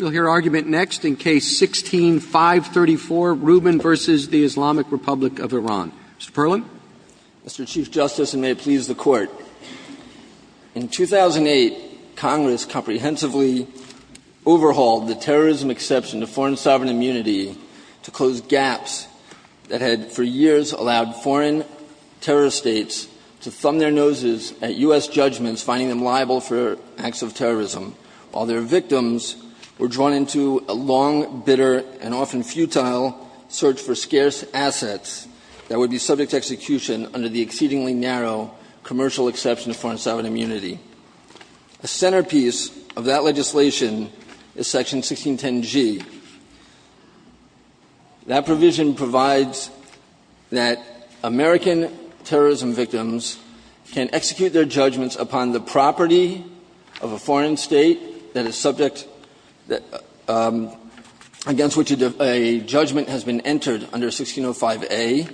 Mr. Chief Justice, and may it please the Court, in 2008, Congress comprehensively overhauled the terrorism exception to foreign sovereign immunity to close gaps that had for years allowed foreign terrorist states to thumb their noses at U.S. judgments, finding them liable for acts of terrorism, while their victims were not. A centerpiece of that legislation is Section 1610G. That provision provides that American terrorism victims can execute their judgments upon the property of a foreign state that is subject against which a judgment has been entered under 1605A,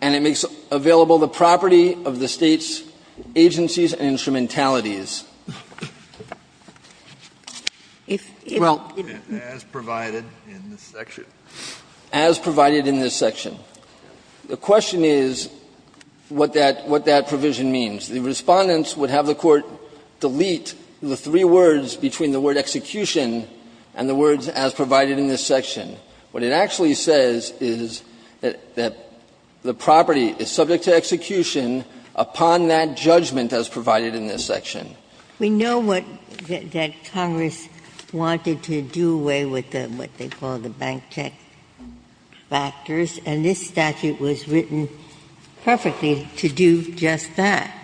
and it makes available the property of the state's agencies and instrumentalities. Well, as provided in this section. The question is what that provision means. The Respondents would have the Court delete the three words between the word execution and the words as provided in this section. What it actually says is that the property is subject to execution upon that judgment as provided in this section. We know what Congress wanted to do away with what they call the bank check factors, and this statute was written perfectly to do just that.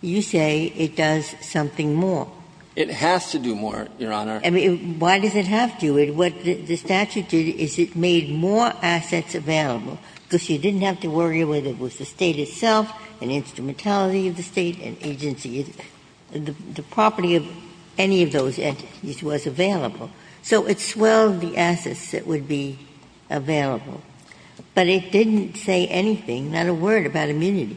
You say it does something more. It has to do more, Your Honor. Why does it have to? What the statute did is it made more assets available, because you didn't have to worry whether it was the State itself, an instrumentality of the State, an agency. The property of any of those entities was available. So it swelled the assets that would be available. But it didn't say anything, not a word, about immunity.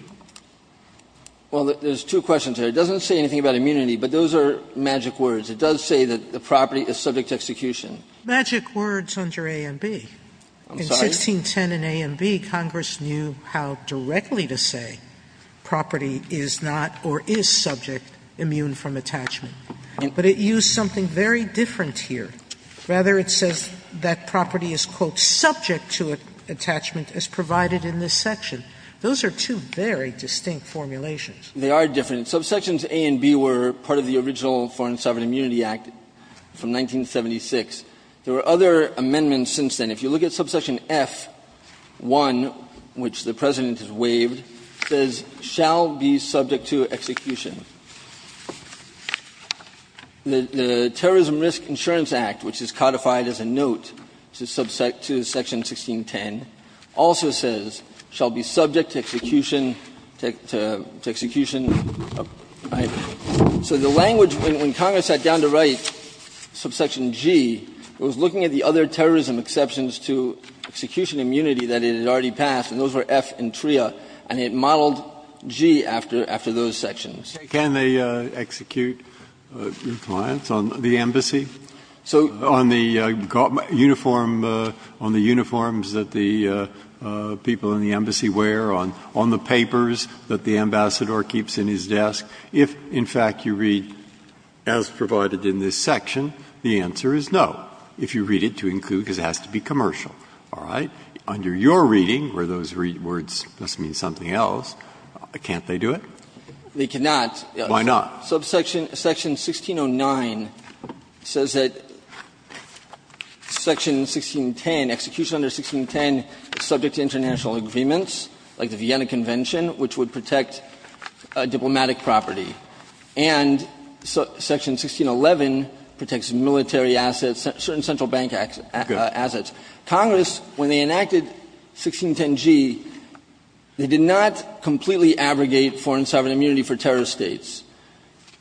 Well, there's two questions there. It doesn't say anything about immunity, but those are magic words. It does say that the property is subject to execution. Magic words under A and B. I'm sorry? In 1610 in A and B, Congress knew how directly to say property is not or is subject immune from attachment. But it used something very different here. Rather, it says that property is, quote, subject to attachment, as provided in this section. Those are two very distinct formulations. They are different. Subsections A and B were part of the original Foreign and Sovereign Immunity Act from 1976. There were other amendments since then. If you look at subsection F-1, which the President has waived, it says, shall be subject to execution. The Terrorism Risk Insurance Act, which is codified as a note to subsection 1610, also says, shall be subject to execution. So the language, when Congress sat down to write subsection G, it was looking at the other terrorism exceptions to execution immunity that it had already passed, and those were F and TRIA, and it modeled G after those sections. Breyer. Can they execute compliance on the embassy? On the uniform, on the uniforms that the people in the embassy wear? On the papers that the ambassador keeps in his desk? If, in fact, you read, as provided in this section, the answer is no. If you read it to include, because it has to be commercial, all right? Under your reading, where those words must mean something else, can't they do it? They cannot. Why not? Subsection 1609 says that section 1610, execution under 1610 is subject to international agreements, like the Vienna Convention, which would protect diplomatic property. And section 1611 protects military assets, certain central bank assets. Congress, when they enacted 1610G, they did not completely abrogate foreign sovereign immunity for terrorist states.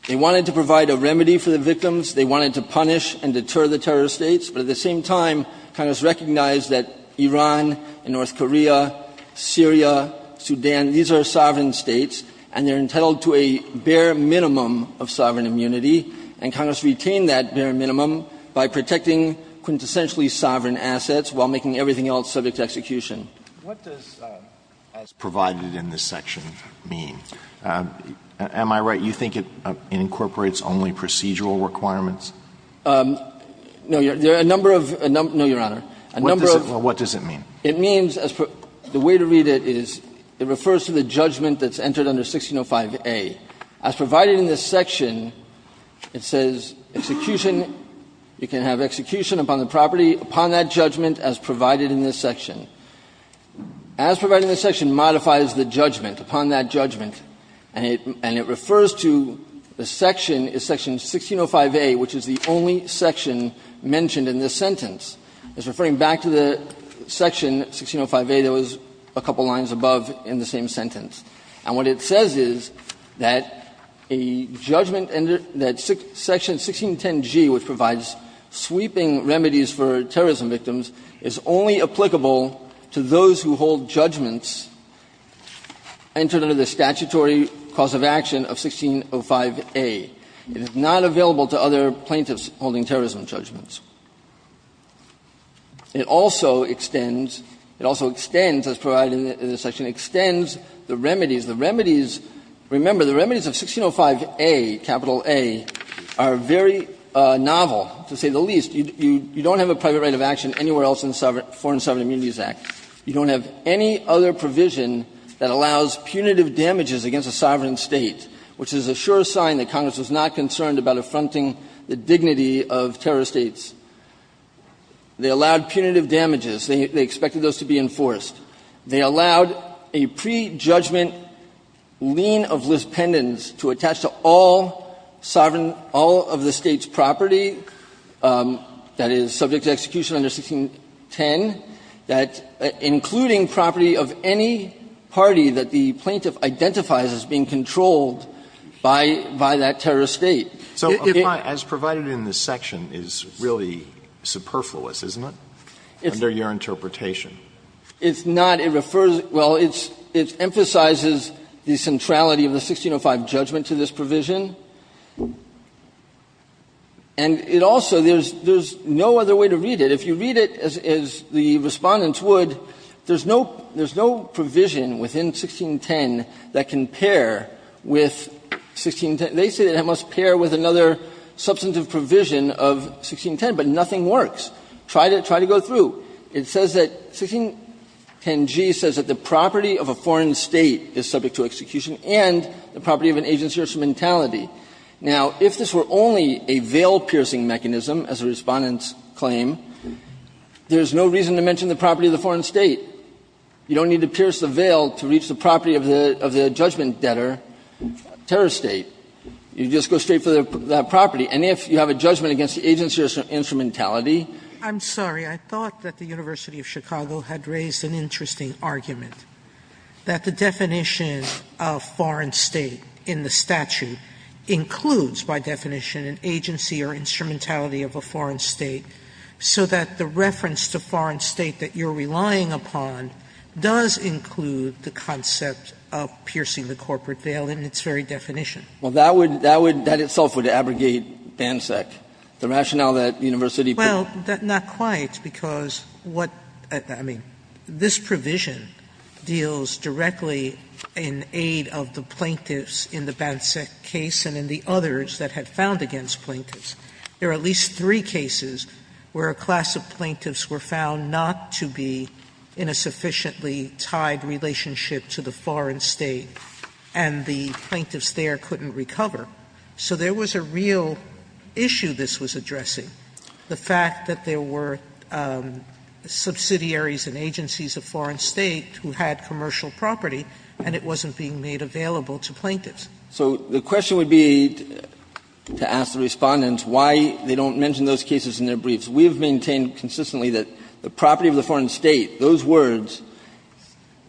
They wanted to provide a remedy for the victims. They wanted to punish and deter the terrorist states. But at the same time, Congress recognized that Iran and North Korea, Syria, Sudan, these are sovereign states, and they are entitled to a bare minimum of sovereign assets while making everything else subject to execution. Alito, what does as provided in this section mean? Am I right? You think it incorporates only procedural requirements? No, Your Honor. What does it mean? It means, the way to read it is it refers to the judgment that's entered under 1605A. As provided in this section, it says execution, you can have execution upon the property. Upon that judgment as provided in this section. As provided in this section modifies the judgment, upon that judgment, and it refers to the section, section 1605A, which is the only section mentioned in this sentence. It's referring back to the section 1605A that was a couple lines above in the same sentence. And what it says is that a judgment that section 1610G, which provides sweeping remedies for terrorism victims, is only applicable to those who hold judgments entered under the statutory cause of action of 1605A. It is not available to other plaintiffs holding terrorism judgments. It also extends, it also extends, as provided in this section, extends the remedies. The remedies, remember, the remedies of 1605A, capital A, are very novel, to say the least. You don't have a private right of action anywhere else in the Foreign Sovereign Immunities Act. You don't have any other provision that allows punitive damages against a sovereign State, which is a sure sign that Congress was not concerned about affronting the dignity of terrorist States. They allowed punitive damages. They expected those to be enforced. They allowed a prejudgment lien of lispendence to attach to all sovereign, all of the State's property, that is, subject to execution under 1610, that including property of any party that the plaintiff identifies as being controlled by that terrorist State. Alito, as provided in this section, is really superfluous, isn't it, under your interpretation? It's not. It refers to, well, it emphasizes the centrality of the 1605 judgment to this provision. And it also, there's no other way to read it. If you read it as the Respondents would, there's no provision within 1610 that can pair with 1610. They say that it must pair with another substantive provision of 1610, but nothing works. Try to go through. It says that 1610g says that the property of a foreign State is subject to execution and the property of an agency or instrumentality. Now, if this were only a veil-piercing mechanism, as the Respondents claim, there is no reason to mention the property of the foreign State. You don't need to pierce the veil to reach the property of the judgment-debtor terrorist State. You just go straight for that property. And if you have a judgment against the agency or instrumentality Sotomayor, I'm sorry. I thought that the University of Chicago had raised an interesting argument, that the definition of foreign State in the statute includes, by definition, an agency or instrumentality of a foreign State, so that the reference to foreign State that you're relying upon does include the concept of piercing the corporate veil in its very definition. Well, that would, that would, that itself would abrogate BANSEC, the rationale that University put forth. Sotomayor, well, not quite, because what, I mean, this provision deals directly in aid of the plaintiffs in the BANSEC case and in the others that had found against plaintiffs. There are at least three cases where a class of plaintiffs were found not to be in a sufficiently tied relationship to the foreign State, and the plaintiffs there couldn't recover. So there was a real issue this was addressing. The fact that there were subsidiaries and agencies of foreign State who had commercial property, and it wasn't being made available to plaintiffs. So the question would be, to ask the Respondents, why they don't mention those cases in their briefs. We have maintained consistently that the property of the foreign State, those words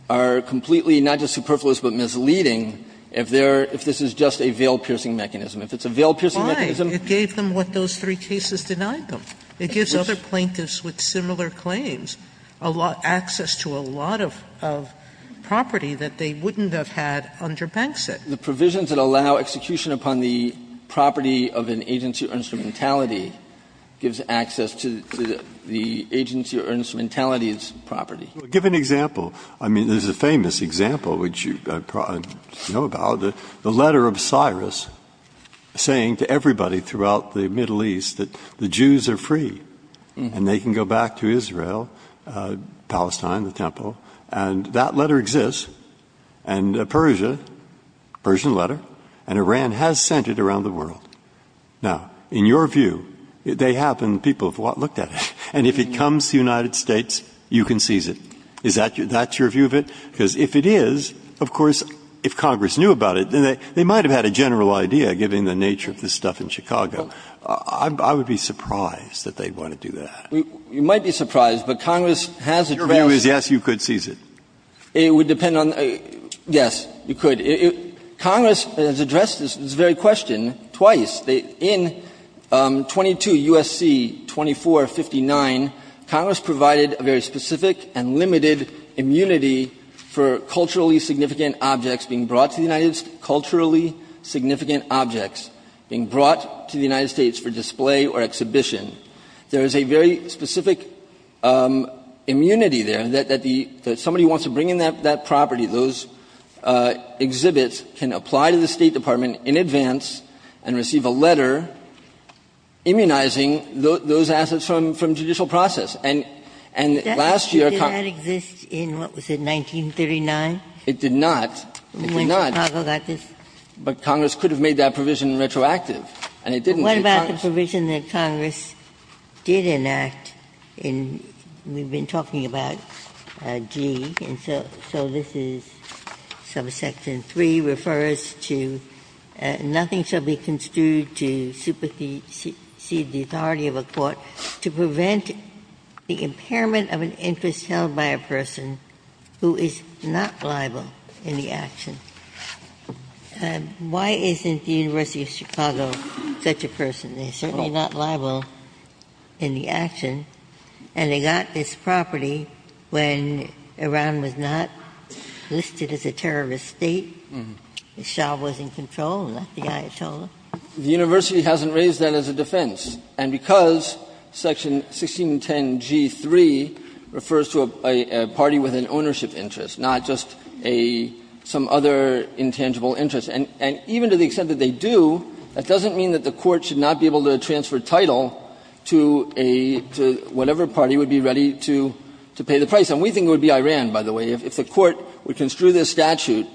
are completely not just superfluous but misleading if there, if this is just a veil piercing mechanism. If it's a veil piercing mechanism. It gave them what those three cases denied them. It gives other plaintiffs with similar claims a lot, access to a lot of, of property that they wouldn't have had under BANSEC. The provisions that allow execution upon the property of an agency or instrumentality gives access to the agency or instrumentality's property. Well, give an example. I mean, there's a famous example, which you probably know about, the letter of Cyrus saying to everybody throughout the Middle East that the Jews are free and they can go back to Israel, Palestine, the Temple, and that letter exists and Persia, Persian letter, and Iran has sent it around the world. Now, in your view, they have, and people have looked at it, and if it comes to the United States, you can seize it. Is that, that's your view of it? Because if it is, of course, if Congress knew about it, then they, they might have had a general idea, given the nature of this stuff in Chicago. I would be surprised that they'd want to do that. You might be surprised, but Congress has a trouncement. Your view is, yes, you could seize it. It would depend on, yes, you could. Congress has addressed this very question twice. In 22 U.S.C. 2459, Congress provided a very specific and limited immunity for culturally significant objects being brought to the United States for display or exhibition. There is a very specific immunity there that the, that somebody wants to bring in that property, those exhibits can apply to the State Department in advance and receive a letter immunizing those assets from judicial process. And, and last year Congress That issue did not exist in, what was it, 1939? It did not. It did not. When Chicago got this? But Congress could have made that provision retroactive, and it didn't through Congress. What about the provision that Congress did enact in, we've been talking about G, and so, so this is subsection 3, refers to nothing shall be construed to supersede the authority of a court to prevent the impairment of an interest held by a person who is not liable in the action. Why isn't the University of Chicago such a person? They're certainly not liable in the action, and they got this property when Iran was not listed as a terrorist state. The Shah was in control, not the Ayatollah. The University hasn't raised that as a defense. And because section 1610G3 refers to a party with an ownership interest, not just a, some other intangible interest, and even to the extent that they do, that doesn't mean that the court should not be able to transfer title to a, to whatever party would be ready to pay the price. And we think it would be Iran, by the way, if the court would construe this statute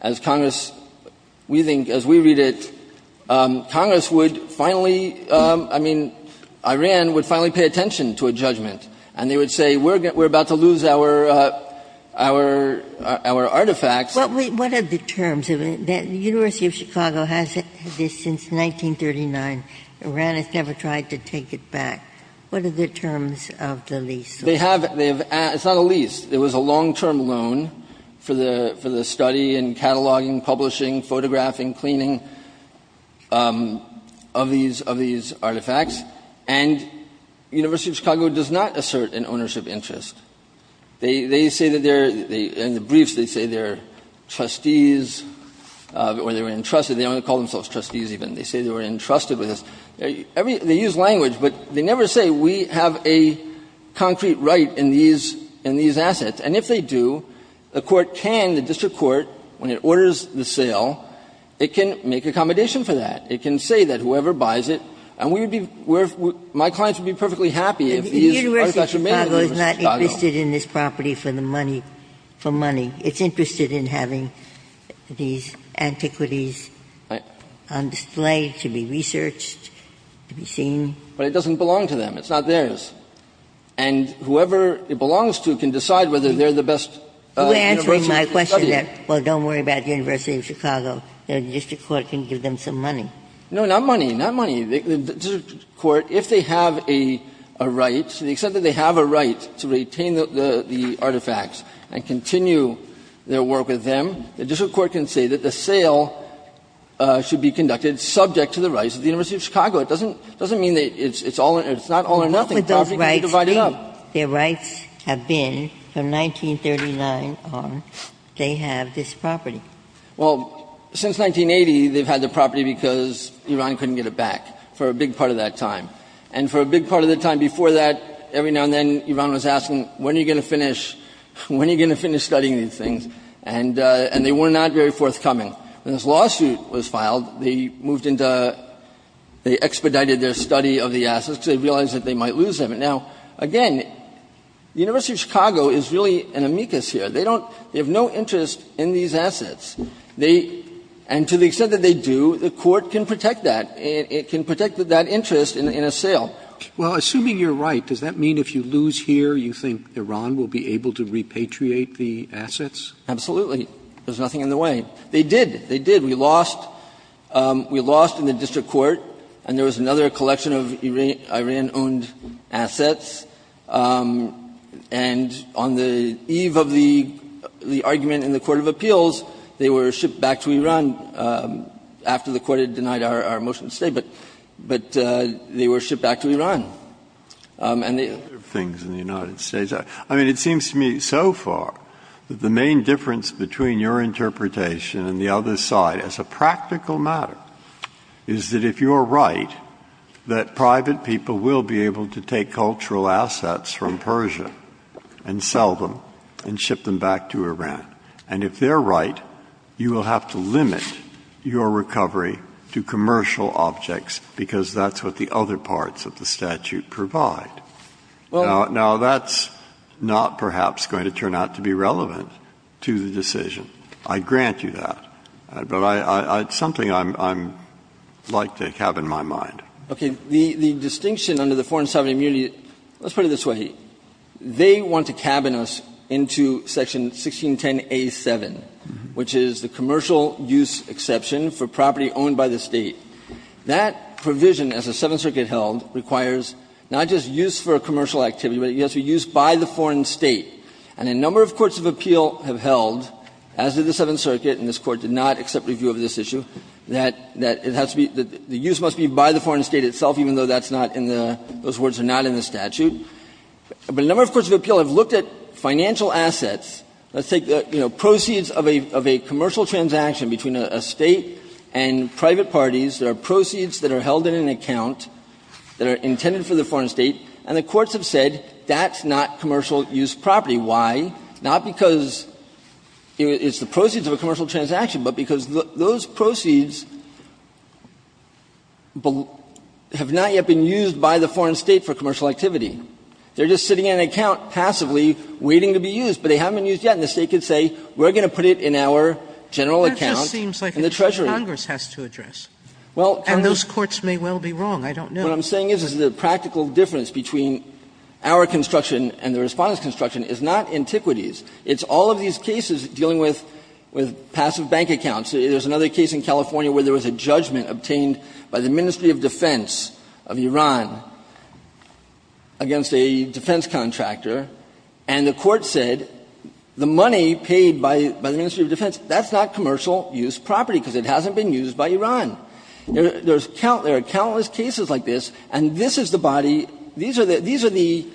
as Congress, we think, as we read it, Congress would finally, I mean, Iran would finally pay attention to a judgment. And they would say, we're about to lose our, our, our artifacts. What are the terms? The University of Chicago has this since 1939. Iran has never tried to take it back. What are the terms of the lease? They have, they have, it's not a lease. It was a long-term loan for the, for the study and cataloging, publishing, photographing, cleaning of these, of these artifacts. And University of Chicago does not assert an ownership interest. They, they say that they're, in the briefs, they say they're trustees, or they were entrusted, they don't call themselves trustees even. They say they were entrusted with this. Every, they use language, but they never say we have a concrete right in these, in these assets. And if they do, the court can, the district court, when it orders the sale, it can make accommodation for that. It can say that whoever buys it, and we would be, we're, my clients would be perfectly happy if these artifacts were made in the University of Chicago. Ginsburg. Ginsburg. The University of Chicago is not interested in this property for the money, for money. It's interested in having these antiquities on display to be researched, to be seen. But it doesn't belong to them. It's not theirs. And whoever it belongs to can decide whether they're the best University to study it. Ginsburg. You're answering my question that, well, don't worry about the University of Chicago. The district court can give them some money. No, not money. Not money. The district court, if they have a, a right, so they accept that they have a right to retain the, the artifacts and continue their work with them, the district court can say that the sale should be conducted subject to the rights of the University of Chicago. It doesn't, it doesn't mean that it's, it's all, it's not all or nothing. The property can be divided up. What would those rights be? Their rights have been, from 1939 on, they have this property. Well, since 1980, they've had the property because Iran couldn't get it back for a big part of that time. And for a big part of the time before that, every now and then, Iran was asking, when are you going to finish, when are you going to finish studying these things? And, and they were not very forthcoming. When this lawsuit was filed, they moved into, they expedited their study of the assets because they realized that they might lose them. And now, again, the University of Chicago is really an amicus here. They don't, they have no interest in these assets. They, and to the extent that they do, the court can protect that. It, it can protect that interest in, in a sale. Roberts. Well, assuming you're right, does that mean if you lose here, you think Iran will be able to repatriate the assets? Absolutely. There's nothing in the way. They did, they did. We lost, we lost in the district court, and there was another collection of Iran-owned assets, and on the eve of the, the argument in the court of appeals, they were shipped back to Iran after the court had denied our, our motion to stay, but, but they were shipped back to Iran, and they. There are other things in the United States. I mean, it seems to me so far that the main difference between your interpretation and the other side as a practical matter is that if you're right, that private people will be able to take cultural assets from Persia and sell them and ship them back to Iran, and if they're right, you will have to limit your recovery to commercial objects because that's what the other parts of the statute provide. Now, that's not perhaps going to turn out to be relevant to the decision. I grant you that, but I, I, it's something I'm, I'm like to have in my mind. Okay. The, the distinction under the Foreign Sovereign Immunity, let's put it this way. They want to cabin us into section 1610a7, which is the commercial use exception for property owned by the State. That provision, as the Seventh Circuit held, requires not just use for a commercial activity, but it has to be used by the foreign State, and a number of courts of appeal have held, as did the Seventh Circuit, and this Court did not accept review of this issue, that, that it has to be, that the use must be by the foreign State itself, even though that's not in the, those words are not in the statute. But a number of courts of appeal have looked at financial assets. Let's take, you know, proceeds of a, of a commercial transaction between a State and private parties. There are proceeds that are held in an account that are intended for the foreign State, and the courts have said that's not commercial use property. Why? Not because it's the proceeds of a commercial transaction, but because those proceeds have not yet been used by the foreign State for commercial activity. They're just sitting in an account passively waiting to be used, but they haven't been used yet, and the State could say we're going to put it in our general account in the treasury. Sotomayor, and those courts may well be wrong. I don't know. What I'm saying is, is the practical difference between our construction and the Respondent's construction is not antiquities. It's all of these cases dealing with, with passive bank accounts. There's another case in California where there was a judgment obtained by the Ministry of Defense of Iran against a defense contractor, and the court said the money paid by, by the Ministry of Defense, that's not commercial use property because it hasn't been used by Iran. There's count, there are countless cases like this, and this is the body, these are the, these are the,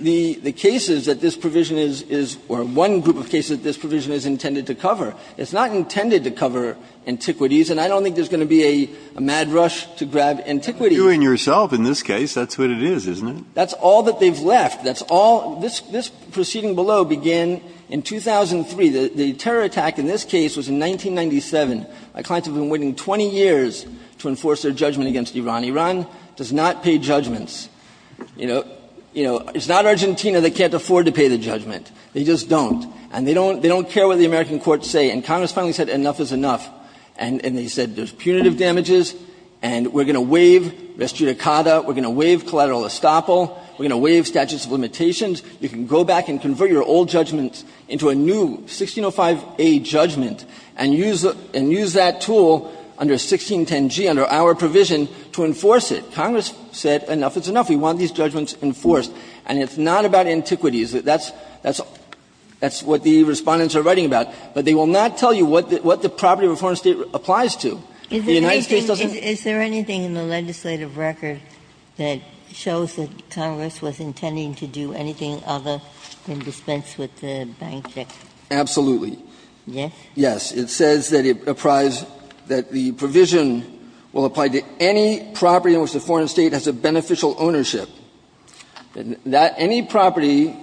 the, the cases that this provision is, is, or one group of cases that this provision is intended to cover. It's not intended to cover antiquities, and I don't think there's going to be a, a mad rush to grab antiquities. Breyer. You and yourself in this case, that's what it is, isn't it? That's all that they've left. That's all, this, this proceeding below began in 2003. The, the terror attack in this case was in 1997. My clients have been waiting 20 years to enforce their judgment against Iran. Iran does not pay judgments. You know, you know, it's not Argentina that can't afford to pay the judgment. They just don't. And they don't, they don't care what the American courts say. And Congress finally said enough is enough. And, and they said there's punitive damages, and we're going to waive res judicata, we're going to waive collateral estoppel, we're going to waive statutes of limitations. You can go back and convert your old judgments into a new 1605a judgment and use, and use that tool under 1610g, under our provision, to enforce it. Congress said enough is enough. We want these judgments enforced. And it's not about antiquities. That's, that's, that's what the Respondents are writing about. But they will not tell you what the, what the property of a foreign State applies to. The United States doesn't. Ginsburg. Is there anything in the legislative record that shows that Congress was intending to do anything other than dispense with the bank check? Verrilli, Yes. It says that it applies, that the provision will apply to any property on which the foreign State has a beneficial ownership. That any property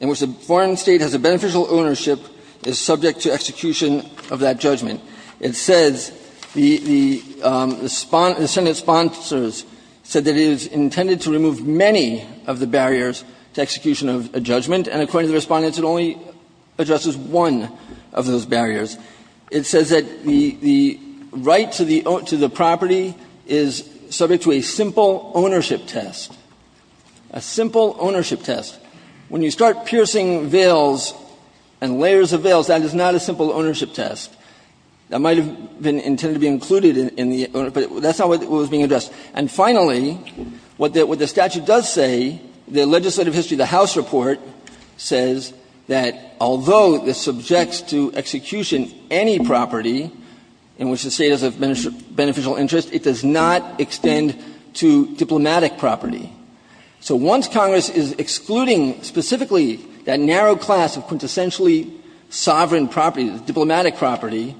in which the foreign State has a beneficial ownership is subject to execution of that judgment. It says the, the, the Senate sponsors said that it is intended to remove many of the barriers to execution of a judgment, and according to the Respondents, it only addresses one of those barriers. It says that the, the right to the, to the property is subject to a simple ownership test, a simple ownership test. When you start piercing veils and layers of veils, that is not a simple ownership test. That might have been intended to be included in the ownership, but that's not what was being addressed. And finally, what the, what the statute does say, the legislative history of the House report says that although this subjects to execution any property in which the State has a beneficial interest, it does not extend to diplomatic property. So once Congress is excluding specifically that narrow class of quintessentially sovereign property, diplomatic property,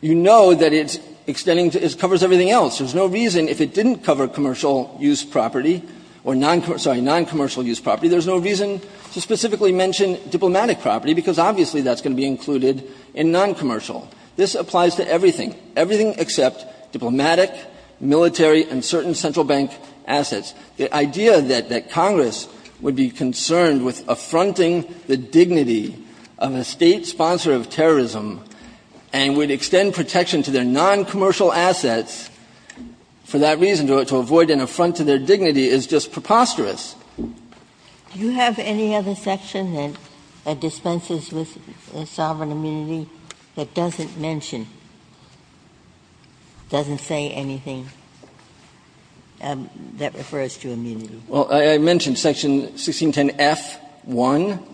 you know that it's extending to, it covers everything else. There's no reason if it didn't cover commercial use property or noncommercial use property, there's no reason to specifically mention diplomatic property, because obviously that's going to be included in noncommercial. This applies to everything, everything except diplomatic, military, and certain central bank assets. The idea that, that Congress would be concerned with affronting the dignity of a State sponsor of terrorism and would extend protection to their noncommercial assets for that reason, to avoid an affront to their dignity, is just preposterous. Ginsburg-Miller Do you have any other section that dispenses with sovereign immunity that doesn't mention, doesn't say anything that refers to immunity? Kennedy Well, I mentioned section 1610F1.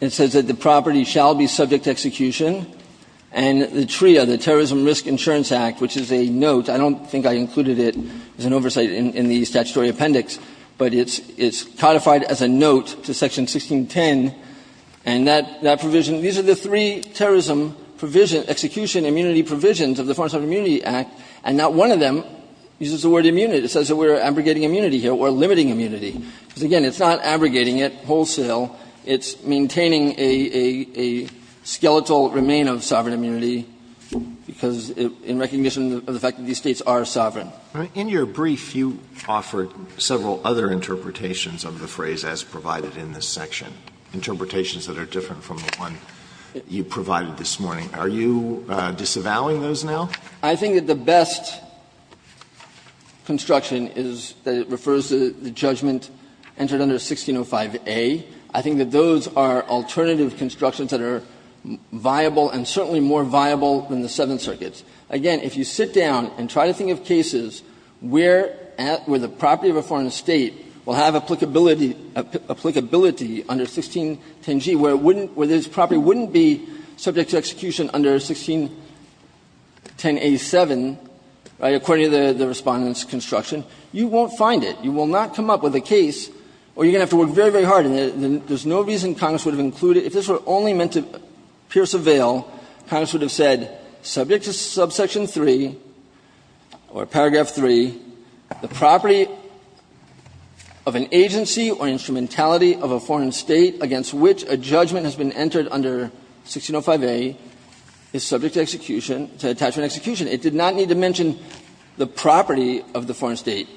It says that the property shall be subject to execution, and the TRIA, the Terrorism Risk Insurance Act, which is a note, I don't think I included it as an oversight in the statutory appendix, but it's codified as a note to section 1610, and that provision, these are the three terrorism provision, execution immunity provisions of the Foreign Sovereign Immunity Act, and not one of them uses the word immunity. It says that we're abrogating immunity here, we're limiting immunity, because again, it's not abrogating it wholesale, it's maintaining a skeletal remain of sovereign immunity, because in recognition of the fact that these States are sovereign. Alito In your brief, you offered several other interpretations of the phrase as provided in this section, interpretations that are different from the one you provided this morning. Are you disavowing those now? Kennedy I think that the best construction is that it refers to the judgment entered under 1605A. I think that those are alternative constructions that are viable and certainly more viable than the Seventh Circuit. Again, if you sit down and try to think of cases where the property of a foreign State will have applicability under 1610G, where this property wouldn't be subject to execution under 1610A.7, right, according to the Respondent's construction, you won't find it. You will not come up with a case where you're going to have to work very, very hard in it. There's no reason Congress would have included it. If this were only meant to pierce a veil, Congress would have said subject to subsection 3 or paragraph 3, the property of an agency or instrumentality of a foreign State against which a judgment has been entered under 1605A is subject to execution to attachment execution. It did not need to mention the property of the foreign State.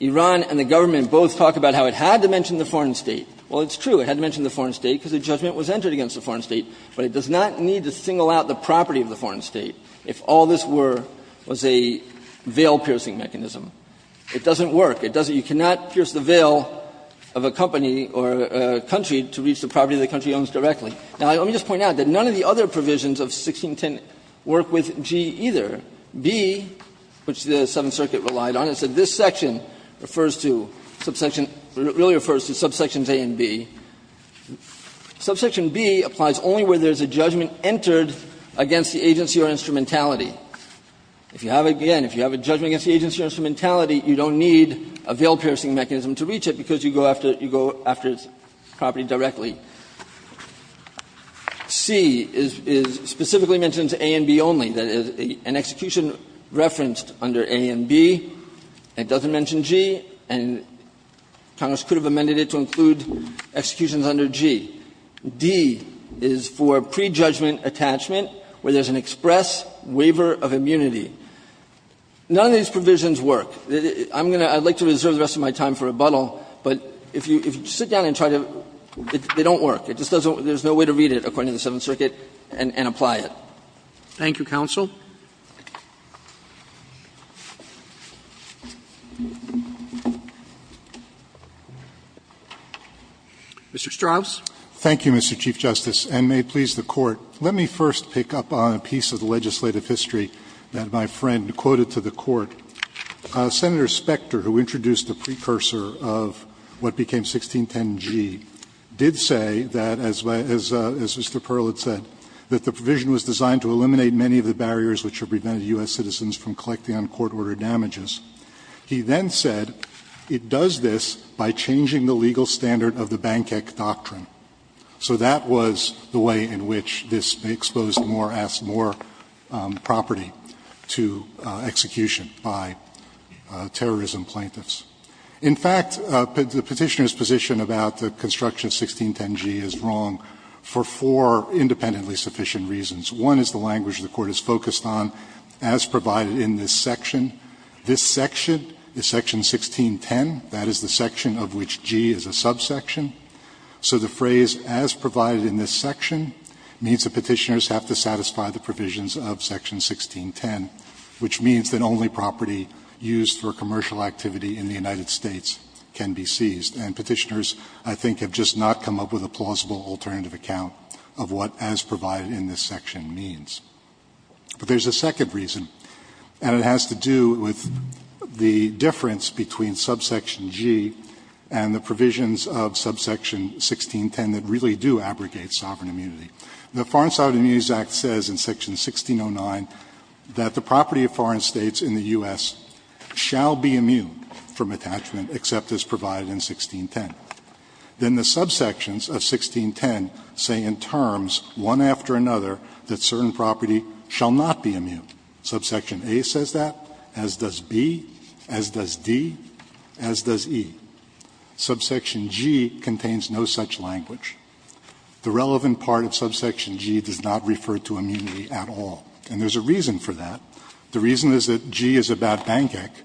Iran and the government both talk about how it had to mention the foreign State. Well, it's true, it had to mention the foreign State because a judgment was entered against the foreign State. But it does not need to single out the property of the foreign State if all this were, was a veil-piercing mechanism. It doesn't work. It doesn't you cannot pierce the veil of a company or a country to reach the property the country owns directly. Now, let me just point out that none of the other provisions of 1610 work with G either. B, which the Seventh Circuit relied on, it said this section refers to subsection A and B. Subsection B applies only where there is a judgment entered against the agency or instrumentality. If you have a judgment against the agency or instrumentality, you don't need a veil-piercing mechanism to reach it because you go after, you go after its property directly. C is specifically mentioned to A and B only. That is, an execution referenced under A and B, and it doesn't mention G. And Congress could have amended it to include executions under G. D is for prejudgment attachment where there is an express waiver of immunity. None of these provisions work. I'm going to, I'd like to reserve the rest of my time for rebuttal, but if you, if you sit down and try to, they don't work. It just doesn't, there's no way to read it, according to the Seventh Circuit, and, and apply it. Roberts. Thank you, counsel. Mr. Strauss. Thank you, Mr. Chief Justice, and may it please the Court, let me first pick up on a piece of the legislative history that my friend quoted to the Court. Senator Specter, who introduced the precursor of what became 1610G, did say that, as Mr. Perl had said, that the provision was designed to eliminate many of the barriers which have prevented U.S. citizens from collecting on court-ordered damages. He then said it does this by changing the legal standard of the Banquet Doctrine. So that was the way in which this exposed more, asked more property to execution by terrorism plaintiffs. In fact, the Petitioner's position about the construction of 1610G is wrong for four independently sufficient reasons. One is the language the Court is focused on, as provided in this section. This section, the section 1610, that is the section of which G is a subsection. So the phrase, as provided in this section, means the Petitioners have to satisfy the provisions of section 1610, which means that only property used for commercial activity in the United States can be seized. And Petitioners, I think, have just not come up with a plausible alternative account of what as provided in this section means. But there's a second reason, and it has to do with the difference between subsection G and the provisions of subsection 1610 that really do abrogate sovereign immunity. The Foreign Sovereign Immunities Act says in section 1609 that the property of foreign states in the U.S. shall be immune from attachment, except as provided in 1610. Then the subsections of 1610 say in terms, one after another, that certain property shall not be immune. Subsection A says that, as does B, as does D, as does E. Subsection G contains no such language. The relevant part of subsection G does not refer to immunity at all. And there's a reason for that. The reason is that G is about Bank Act,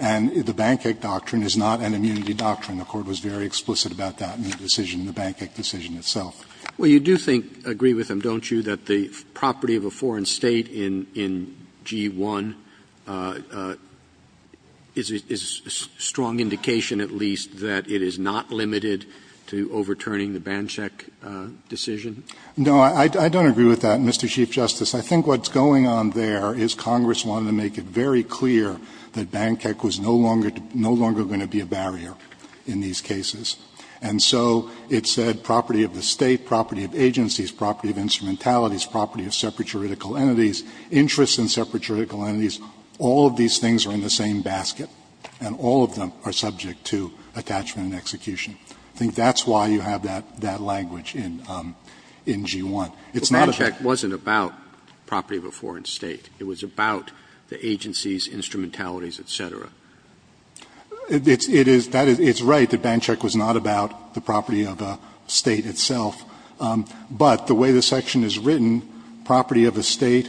and the Bank Act doctrine is not an immunity doctrine. The Court was very explicit about that in the decision, the Bank Act decision itself. Roberts. Well, you do think, agree with him, don't you, that the property of a foreign state in G-1 is a strong indication at least that it is not limited to overturning the Banchek decision? No, I don't agree with that, Mr. Chief Justice. I think what's going on there is Congress wanted to make it very clear that Banchek was no longer going to be a barrier in these cases. And so it said property of the State, property of agencies, property of instrumentalities, property of separatoritical entities, interests in separatoritical entities, all of these things are in the same basket, and all of them are subject to attachment and execution. I think that's why you have that language in G-1. It's not a fact. But Banchek wasn't about property of a foreign state. It was about the agencies, instrumentalities, et cetera. It's right that Banchek was not about the property of a State itself. But the way the section is written, property of a State,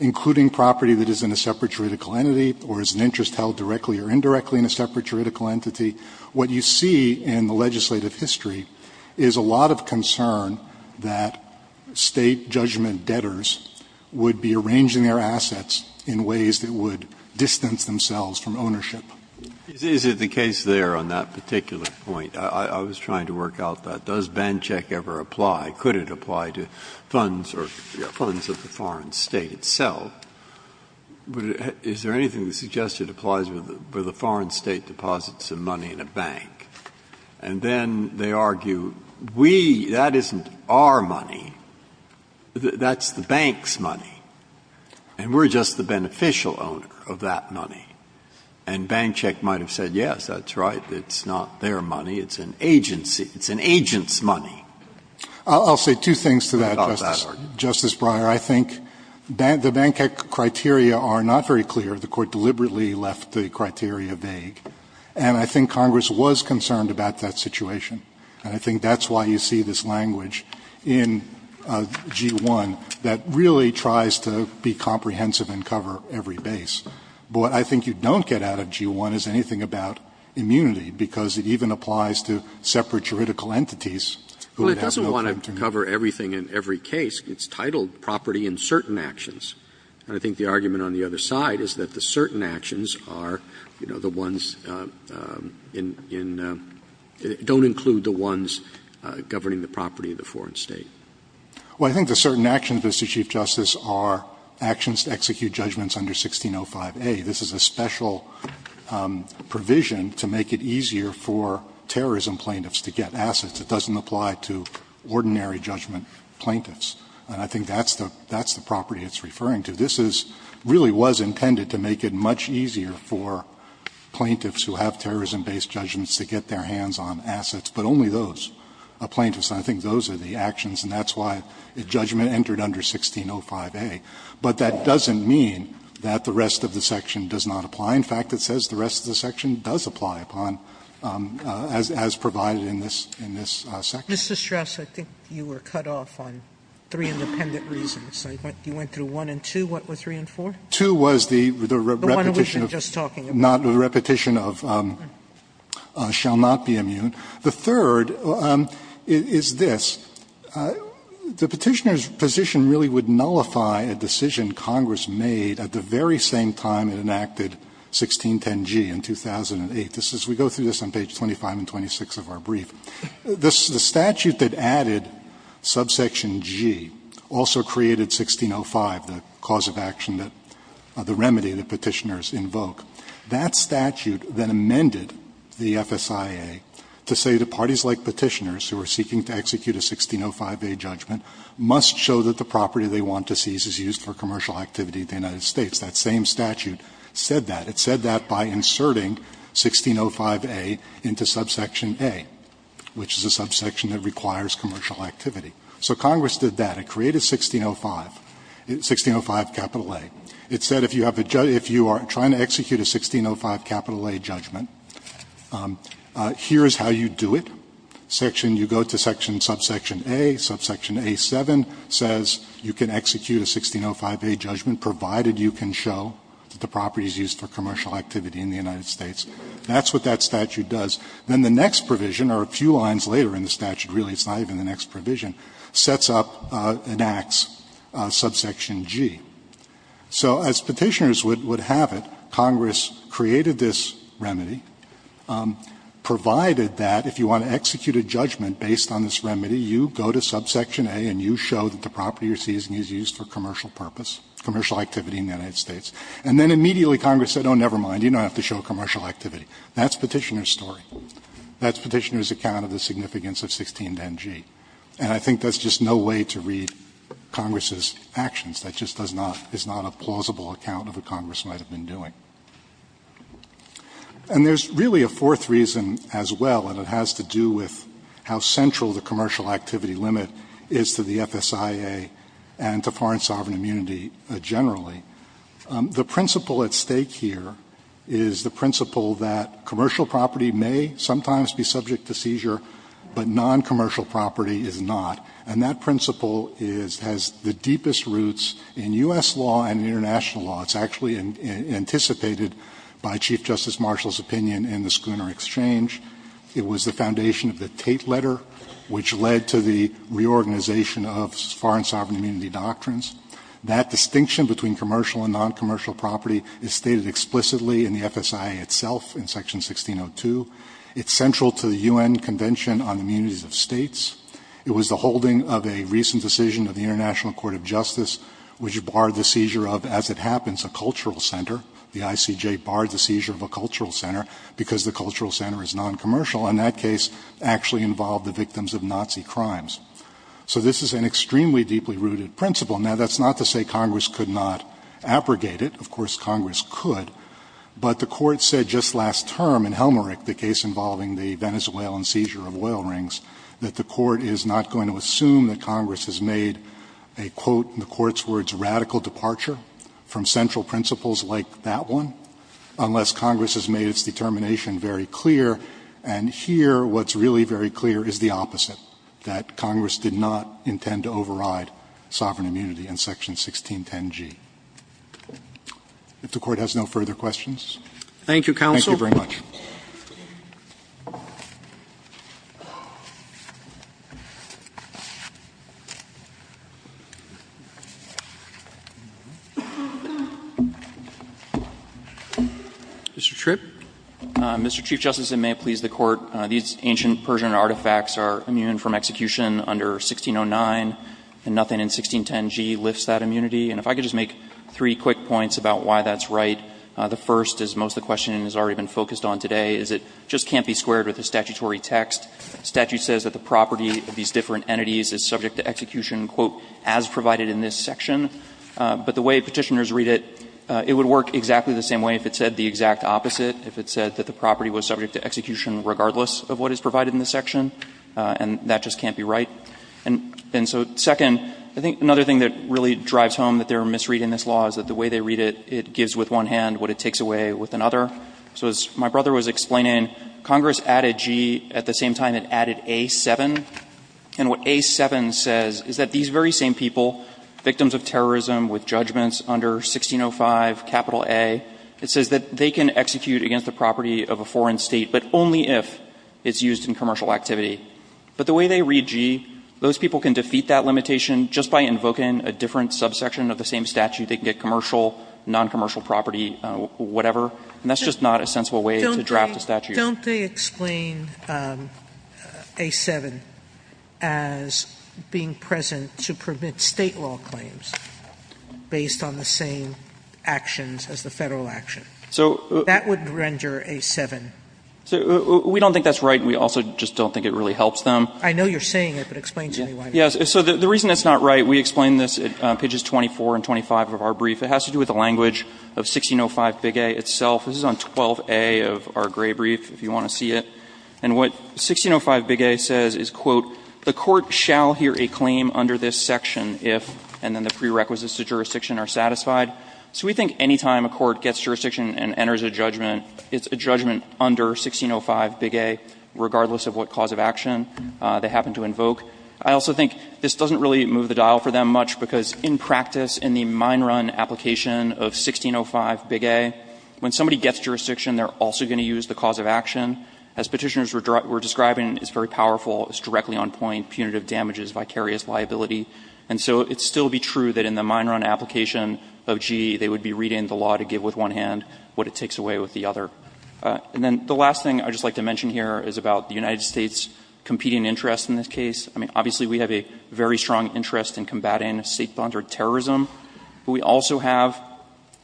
including property that is in a separatoritical entity or is an interest held directly or indirectly in a separatoritical entity, what you see in the legislative history is a lot of concern that State judgment debtors would be arranging their assets in ways that would distance themselves from ownership. Breyer. Is it the case there on that particular point? I was trying to work out that. Does Banchek ever apply? Could it apply to funds or funds of the foreign state itself? Is there anything that suggests it applies with a foreign state deposits of money in a bank? And then they argue, we, that isn't our money, that's the bank's money, and we're just the beneficial owner of that money. And Banchek might have said, yes, that's right, it's not their money, it's an agency, it's an agent's money. I'll say two things to that, Justice Breyer. I think the Banchek criteria are not very clear. The Court deliberately left the criteria vague. And I think Congress was concerned about that situation. And I think that's why you see this language in G-1 that really tries to be comprehensive and cover every base. But what I think you don't get out of G-1 is anything about immunity, because it even applies to separate juridical entities who have no contingency. Well, it doesn't want to cover everything in every case. It's titled property in certain actions. And I think the argument on the other side is that the certain actions are, you know, the ones in — don't include the ones governing the property of the foreign state. Well, I think the certain actions, Mr. Chief Justice, are actions to execute judgments under 1605a. This is a special provision to make it easier for terrorism plaintiffs to get assets. It doesn't apply to ordinary judgment plaintiffs. And I think that's the property it's referring to. This is — really was intended to make it much easier for plaintiffs who have terrorism-based judgments to get their hands on assets, but only those are plaintiffs. And I think those are the actions, and that's why the judgment entered under 1605a. But that doesn't mean that the rest of the section does not apply. In fact, it says the rest of the section does apply upon, as provided in this section. Sotomayor, I think you were cut off on three independent reasons. You went through one and two. What were three and four? Two was the repetition of the repetition of shall not be immune. The third is this. The Petitioner's position really would nullify a decision Congress made at the very same time it enacted 1610g in 2008. This is — we go through this on page 25 and 26 of our brief. The statute that added subsection g also created 1605, the cause of action that — the remedy that Petitioners invoke. That statute then amended the FSIA to say that parties like Petitioners, who are seeking to execute a 1605a judgment, must show that the property they want to seize is used for commercial activity in the United States. That same statute said that. It said that by inserting 1605a into subsection a. Which is a subsection that requires commercial activity. So Congress did that. It created 1605, 1605A. It said if you have a — if you are trying to execute a 1605A judgment, here is how you do it. Section — you go to section — subsection a, subsection a7 says you can execute a 1605a judgment provided you can show that the property is used for commercial activity in the United States. That's what that statute does. Then the next provision, or a few lines later in the statute, really it's not even the next provision, sets up and acts subsection g. So as Petitioners would have it, Congress created this remedy, provided that if you want to execute a judgment based on this remedy, you go to subsection a and you show that the property you are seizing is used for commercial purpose, commercial activity in the United States. And then immediately Congress said, oh, never mind, you don't have to show commercial activity. That's Petitioner's story. That's Petitioner's account of the significance of 1610G. And I think that's just no way to read Congress's actions. That just does not — is not a plausible account of what Congress might have been doing. And there's really a fourth reason as well, and it has to do with how central the commercial activity limit is to the FSIA and to foreign sovereign immunity generally. The principle at stake here is the principle that commercial property may sometimes be subject to seizure, but noncommercial property is not. And that principle is — has the deepest roots in U.S. law and international law. It's actually anticipated by Chief Justice Marshall's opinion in the Schooner Exchange. It was the foundation of the Tate letter, which led to the reorganization of foreign sovereign immunity doctrines. That distinction between commercial and noncommercial property is stated explicitly in the FSIA itself in Section 1602. It's central to the U.N. Convention on the Immunities of States. It was the holding of a recent decision of the International Court of Justice, which barred the seizure of, as it happens, a cultural center. The ICJ barred the seizure of a cultural center because the cultural center is noncommercial. And that case actually involved the victims of Nazi crimes. So this is an extremely deeply rooted principle. Now, that's not to say Congress could not abrogate it. Of course, Congress could. But the Court said just last term in Helmerich, the case involving the Venezuelan seizure of oil rings, that the Court is not going to assume that Congress has made a, quote, in the Court's words, radical departure from central principles like that one unless Congress has made its determination very clear. And here, what's really very clear is the opposite, that Congress did not intend to do that, and that's why it's not in the statute in Section 1610g. If the Court has no further questions. Thank you, counsel. Thank you very much. Mr. Tripp. Mr. Chief Justice, and may it please the Court, these ancient Persian artifacts are immune from execution under 1609, and nothing in 1610g lifts that immunity. And if I could just make three quick points about why that's right. The first, as most of the questioning has already been focused on today, is it just can't be squared with the statutory text. The statute says that the property of these different entities is subject to execution, quote, as provided in this section. But the way Petitioners read it, it would work exactly the same way if it said the exact opposite, if it said that the property was subject to execution regardless of what is provided in the section, and that just can't be right. And so, second, I think another thing that really drives home that they're misreading this law is that the way they read it, it gives with one hand what it takes away with another. So as my brother was explaining, Congress added g, at the same time it added a7. And what a7 says is that these very same people, victims of terrorism with judgments under 1605, capital A, it says that they can execute against the property of a foreign state, but only if it's used in commercial activity. But the way they read g, those people can defeat that limitation just by invoking a different subsection of the same statute. They can get commercial, noncommercial property, whatever. And that's just not a sensible way to draft a statute. Sotomayor, don't they explain a7 as being present to permit State law claims based on the same actions as the Federal action? That would render a7. So we don't think that's right. We also just don't think it really helps them. I know you're saying it, but explain to me why. Yes. So the reason it's not right, we explain this at pages 24 and 25 of our brief. It has to do with the language of 1605bigA itself. This is on 12a of our gray brief, if you want to see it. And what 1605bigA says is, quote, the court shall hear a claim under this section if and then the prerequisites to jurisdiction are satisfied. So we think any time a court gets jurisdiction and enters a judgment, it's a judgment under 1605bigA, regardless of what cause of action they happen to invoke. I also think this doesn't really move the dial for them much, because in practice, in the mine run application of 1605bigA, when somebody gets jurisdiction, they're also going to use the cause of action. As Petitioners were describing, it's very powerful. It's directly on point, punitive damages, vicarious liability. And so it'd still be true that in the mine run application of G, they would be reading the law to give with one hand what it takes away with the other. And then the last thing I'd just like to mention here is about the United States competing interest in this case. I mean, obviously we have a very strong interest in combating state sponsored terrorism. We also have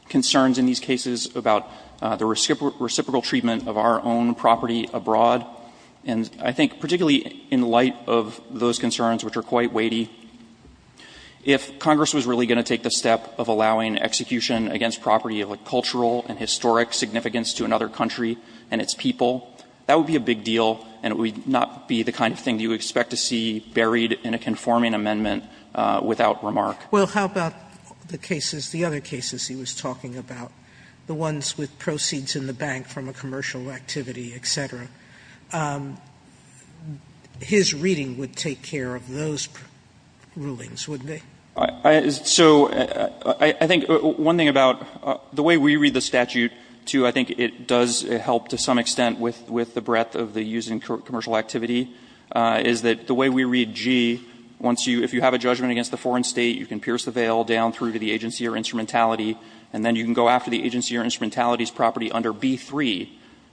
concerns in these cases about the reciprocal treatment of our own property abroad. And I think particularly in light of those concerns, which are quite weighty, if Congress was really going to take the step of allowing execution against property of a cultural and historic significance to another country and its people, that would be a big deal and it would not be the kind of thing you would expect to see buried in a conforming amendment without remark. Sotomayor, Well, how about the cases, the other cases he was talking about, the ones with proceeds in the bank from a commercial activity, et cetera? His reading would take care of those rulings, wouldn't it? So I think one thing about the way we read the statute, too, I think it does help to some extent with the breadth of the use in commercial activity, is that the way we read G, once you – if you have a judgment against a foreign state, you can pierce the veil down through to the agency or instrumentality, and then you can go after the agency or instrumentality's property under B-3,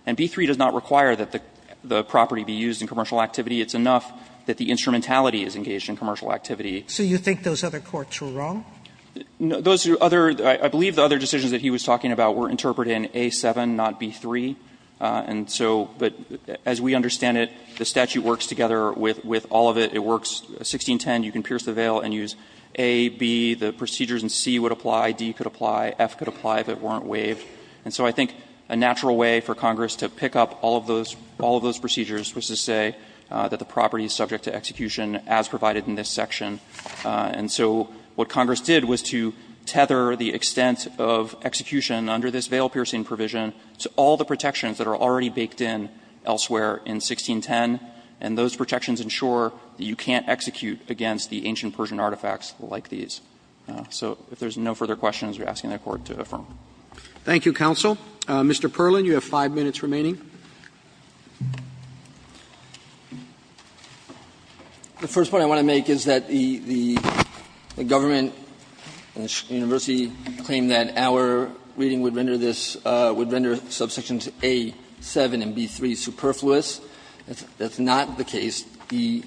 and B-3 does not require that the property be used in commercial activity. It's enough that the instrumentality is engaged in commercial activity. So you think those other courts were wrong? Those other – I believe the other decisions that he was talking about were interpreted in A-7, not B-3. And so – but as we understand it, the statute works together with all of it. It works – 1610, you can pierce the veil and use A, B, the procedures in C would apply, D could apply, F could apply if it weren't waived. And so I think a natural way for Congress to pick up all of those – all of those procedures was to say that the property is subject to execution as provided in this section. And so what Congress did was to tether the extent of execution under this veil-piercing provision to all the protections that are already baked in elsewhere in 1610, and those protections ensure that you can't execute against the ancient Persian artifacts like these. So if there's no further questions, we're asking the Court to affirm. Roberts. Thank you, counsel. Mr. Perlin, you have 5 minutes remaining. The first point I want to make is that the government and the university claim that our reading would render this – would render subsections A-7 and B-3 superfluous. That's not the case. The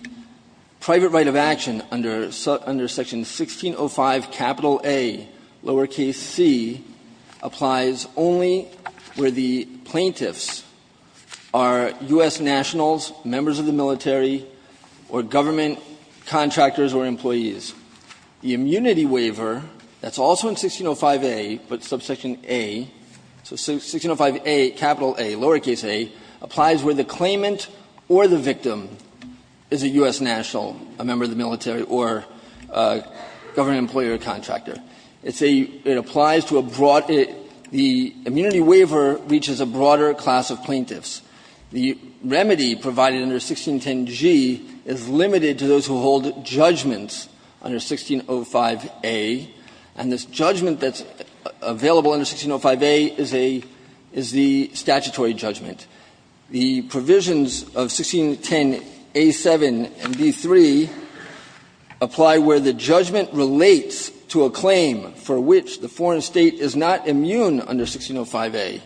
private right of action under section 1605Ac applies only where the plaintiffs are U.S. nationals, members of the military, or government contractors or employees. The immunity waiver that's also in 1605A, but subsection A, so 1605A, A, lowercase A, applies where the claimant or the victim is a U.S. national, a member of the military or government employee or contractor. It's a – it applies to a broad – the immunity waiver reaches a broader class of plaintiffs. The remedy provided under 1610G is limited to those who hold judgments under 1605A, and this judgment that's available under 1605A is a – is the statutory judgment. The provisions of 1610A-7 and B-3 apply where the judgment relates to a claim for which the foreign state is not immune under 1605A,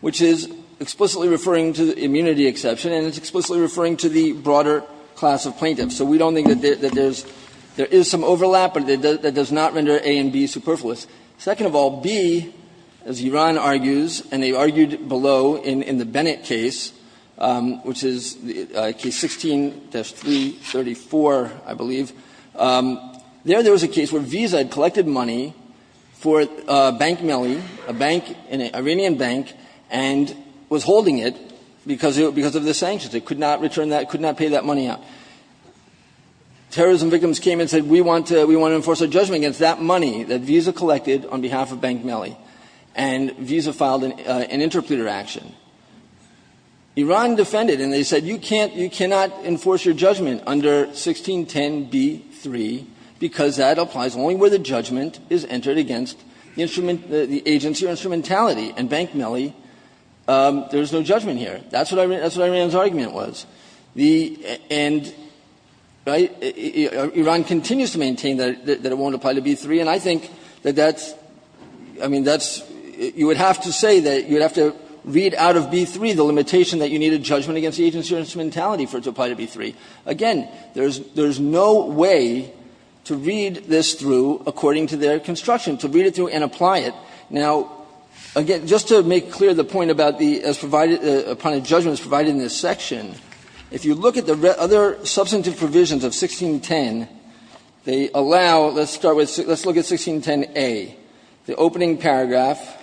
which is explicitly referring to the immunity exception, and it's explicitly referring to the broader class of plaintiffs. So we don't think that there's – there is some overlap, but that does not render A and B superfluous. Second of all, B, as Iran argues, and they argued below in the Bennett case, which is case 16-334, I believe, there was a case where Visa had collected money for a bank millie, a bank, an Iranian bank, and was holding it because of the sanctions. It could not return that, could not pay that money out. Terrorism victims came and said, we want to – we want to enforce a judgment against that money that Visa collected on behalf of Bank Millie, and Visa filed an interpleader action. Iran defended, and they said, you can't – you cannot enforce your judgment under 1610B-3, because that applies only where the judgment is entered against the instrument – the agency or instrumentality, and Bank Millie, there is no judgment here. That's what Iran's argument was. The – and, right, Iran continues to maintain that it won't apply to B-3, and I think that that's – I mean, that's – you would have to say that you would have to read out of B-3 the limitation that you need a judgment against the agency or instrumentality for it to apply to B-3. Again, there is – there is no way to read this through according to their construction, to read it through and apply it. Now, again, just to make clear the point about the – as provided – upon a judgment as provided in this section, if you look at the other substantive provisions of 1610, they allow – let's start with – let's look at 1610A. The opening paragraph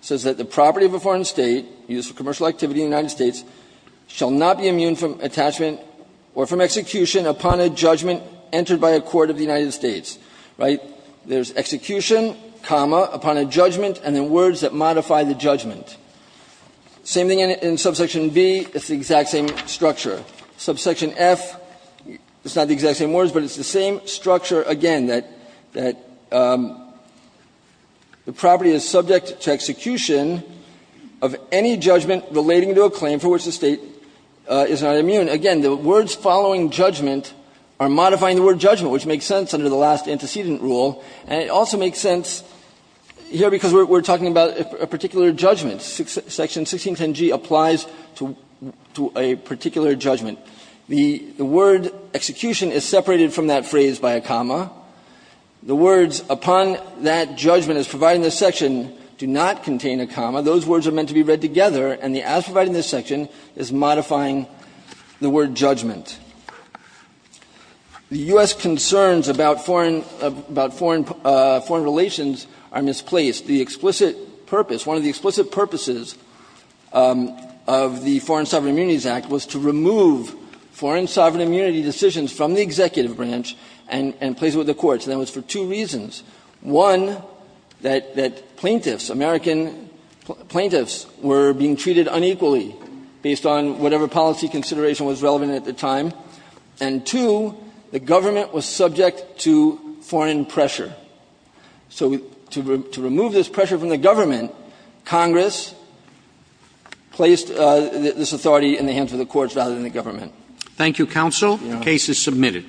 says that the property of a foreign state used for commercial activity in the United States shall not be immune from attachment or from execution upon a judgment entered by a court of the United States, right? There's execution, comma, upon a judgment, and then words that modify the judgment. Same thing in subsection B. It's the exact same structure. Subsection F, it's not the exact same words, but it's the same structure again, that – that the property is subject to execution of any judgment relating to a claim for which the State is not immune. Again, the words following judgment are modifying the word judgment, which makes sense under the last antecedent rule, and it also makes sense here because we're talking about a particular judgment. Section 1610G applies to a particular judgment. The word execution is separated from that phrase by a comma. The words upon that judgment as provided in this section do not contain a comma. Those words are meant to be read together, and the as provided in this section is modifying the word judgment. The U.S. concerns about foreign – about foreign relations are misplaced. The explicit purpose, one of the explicit purposes of the Foreign Sovereign Immunities Act was to remove foreign sovereign immunity decisions from the executive branch and place it with the courts, and that was for two reasons. One, that plaintiffs, American plaintiffs, were being treated unequally based on whatever policy consideration was relevant at the time. And two, the government was subject to foreign pressure. So to remove this pressure from the government, Congress placed this authority in the hands of the courts rather than the government. Thank you, counsel. The case is submitted.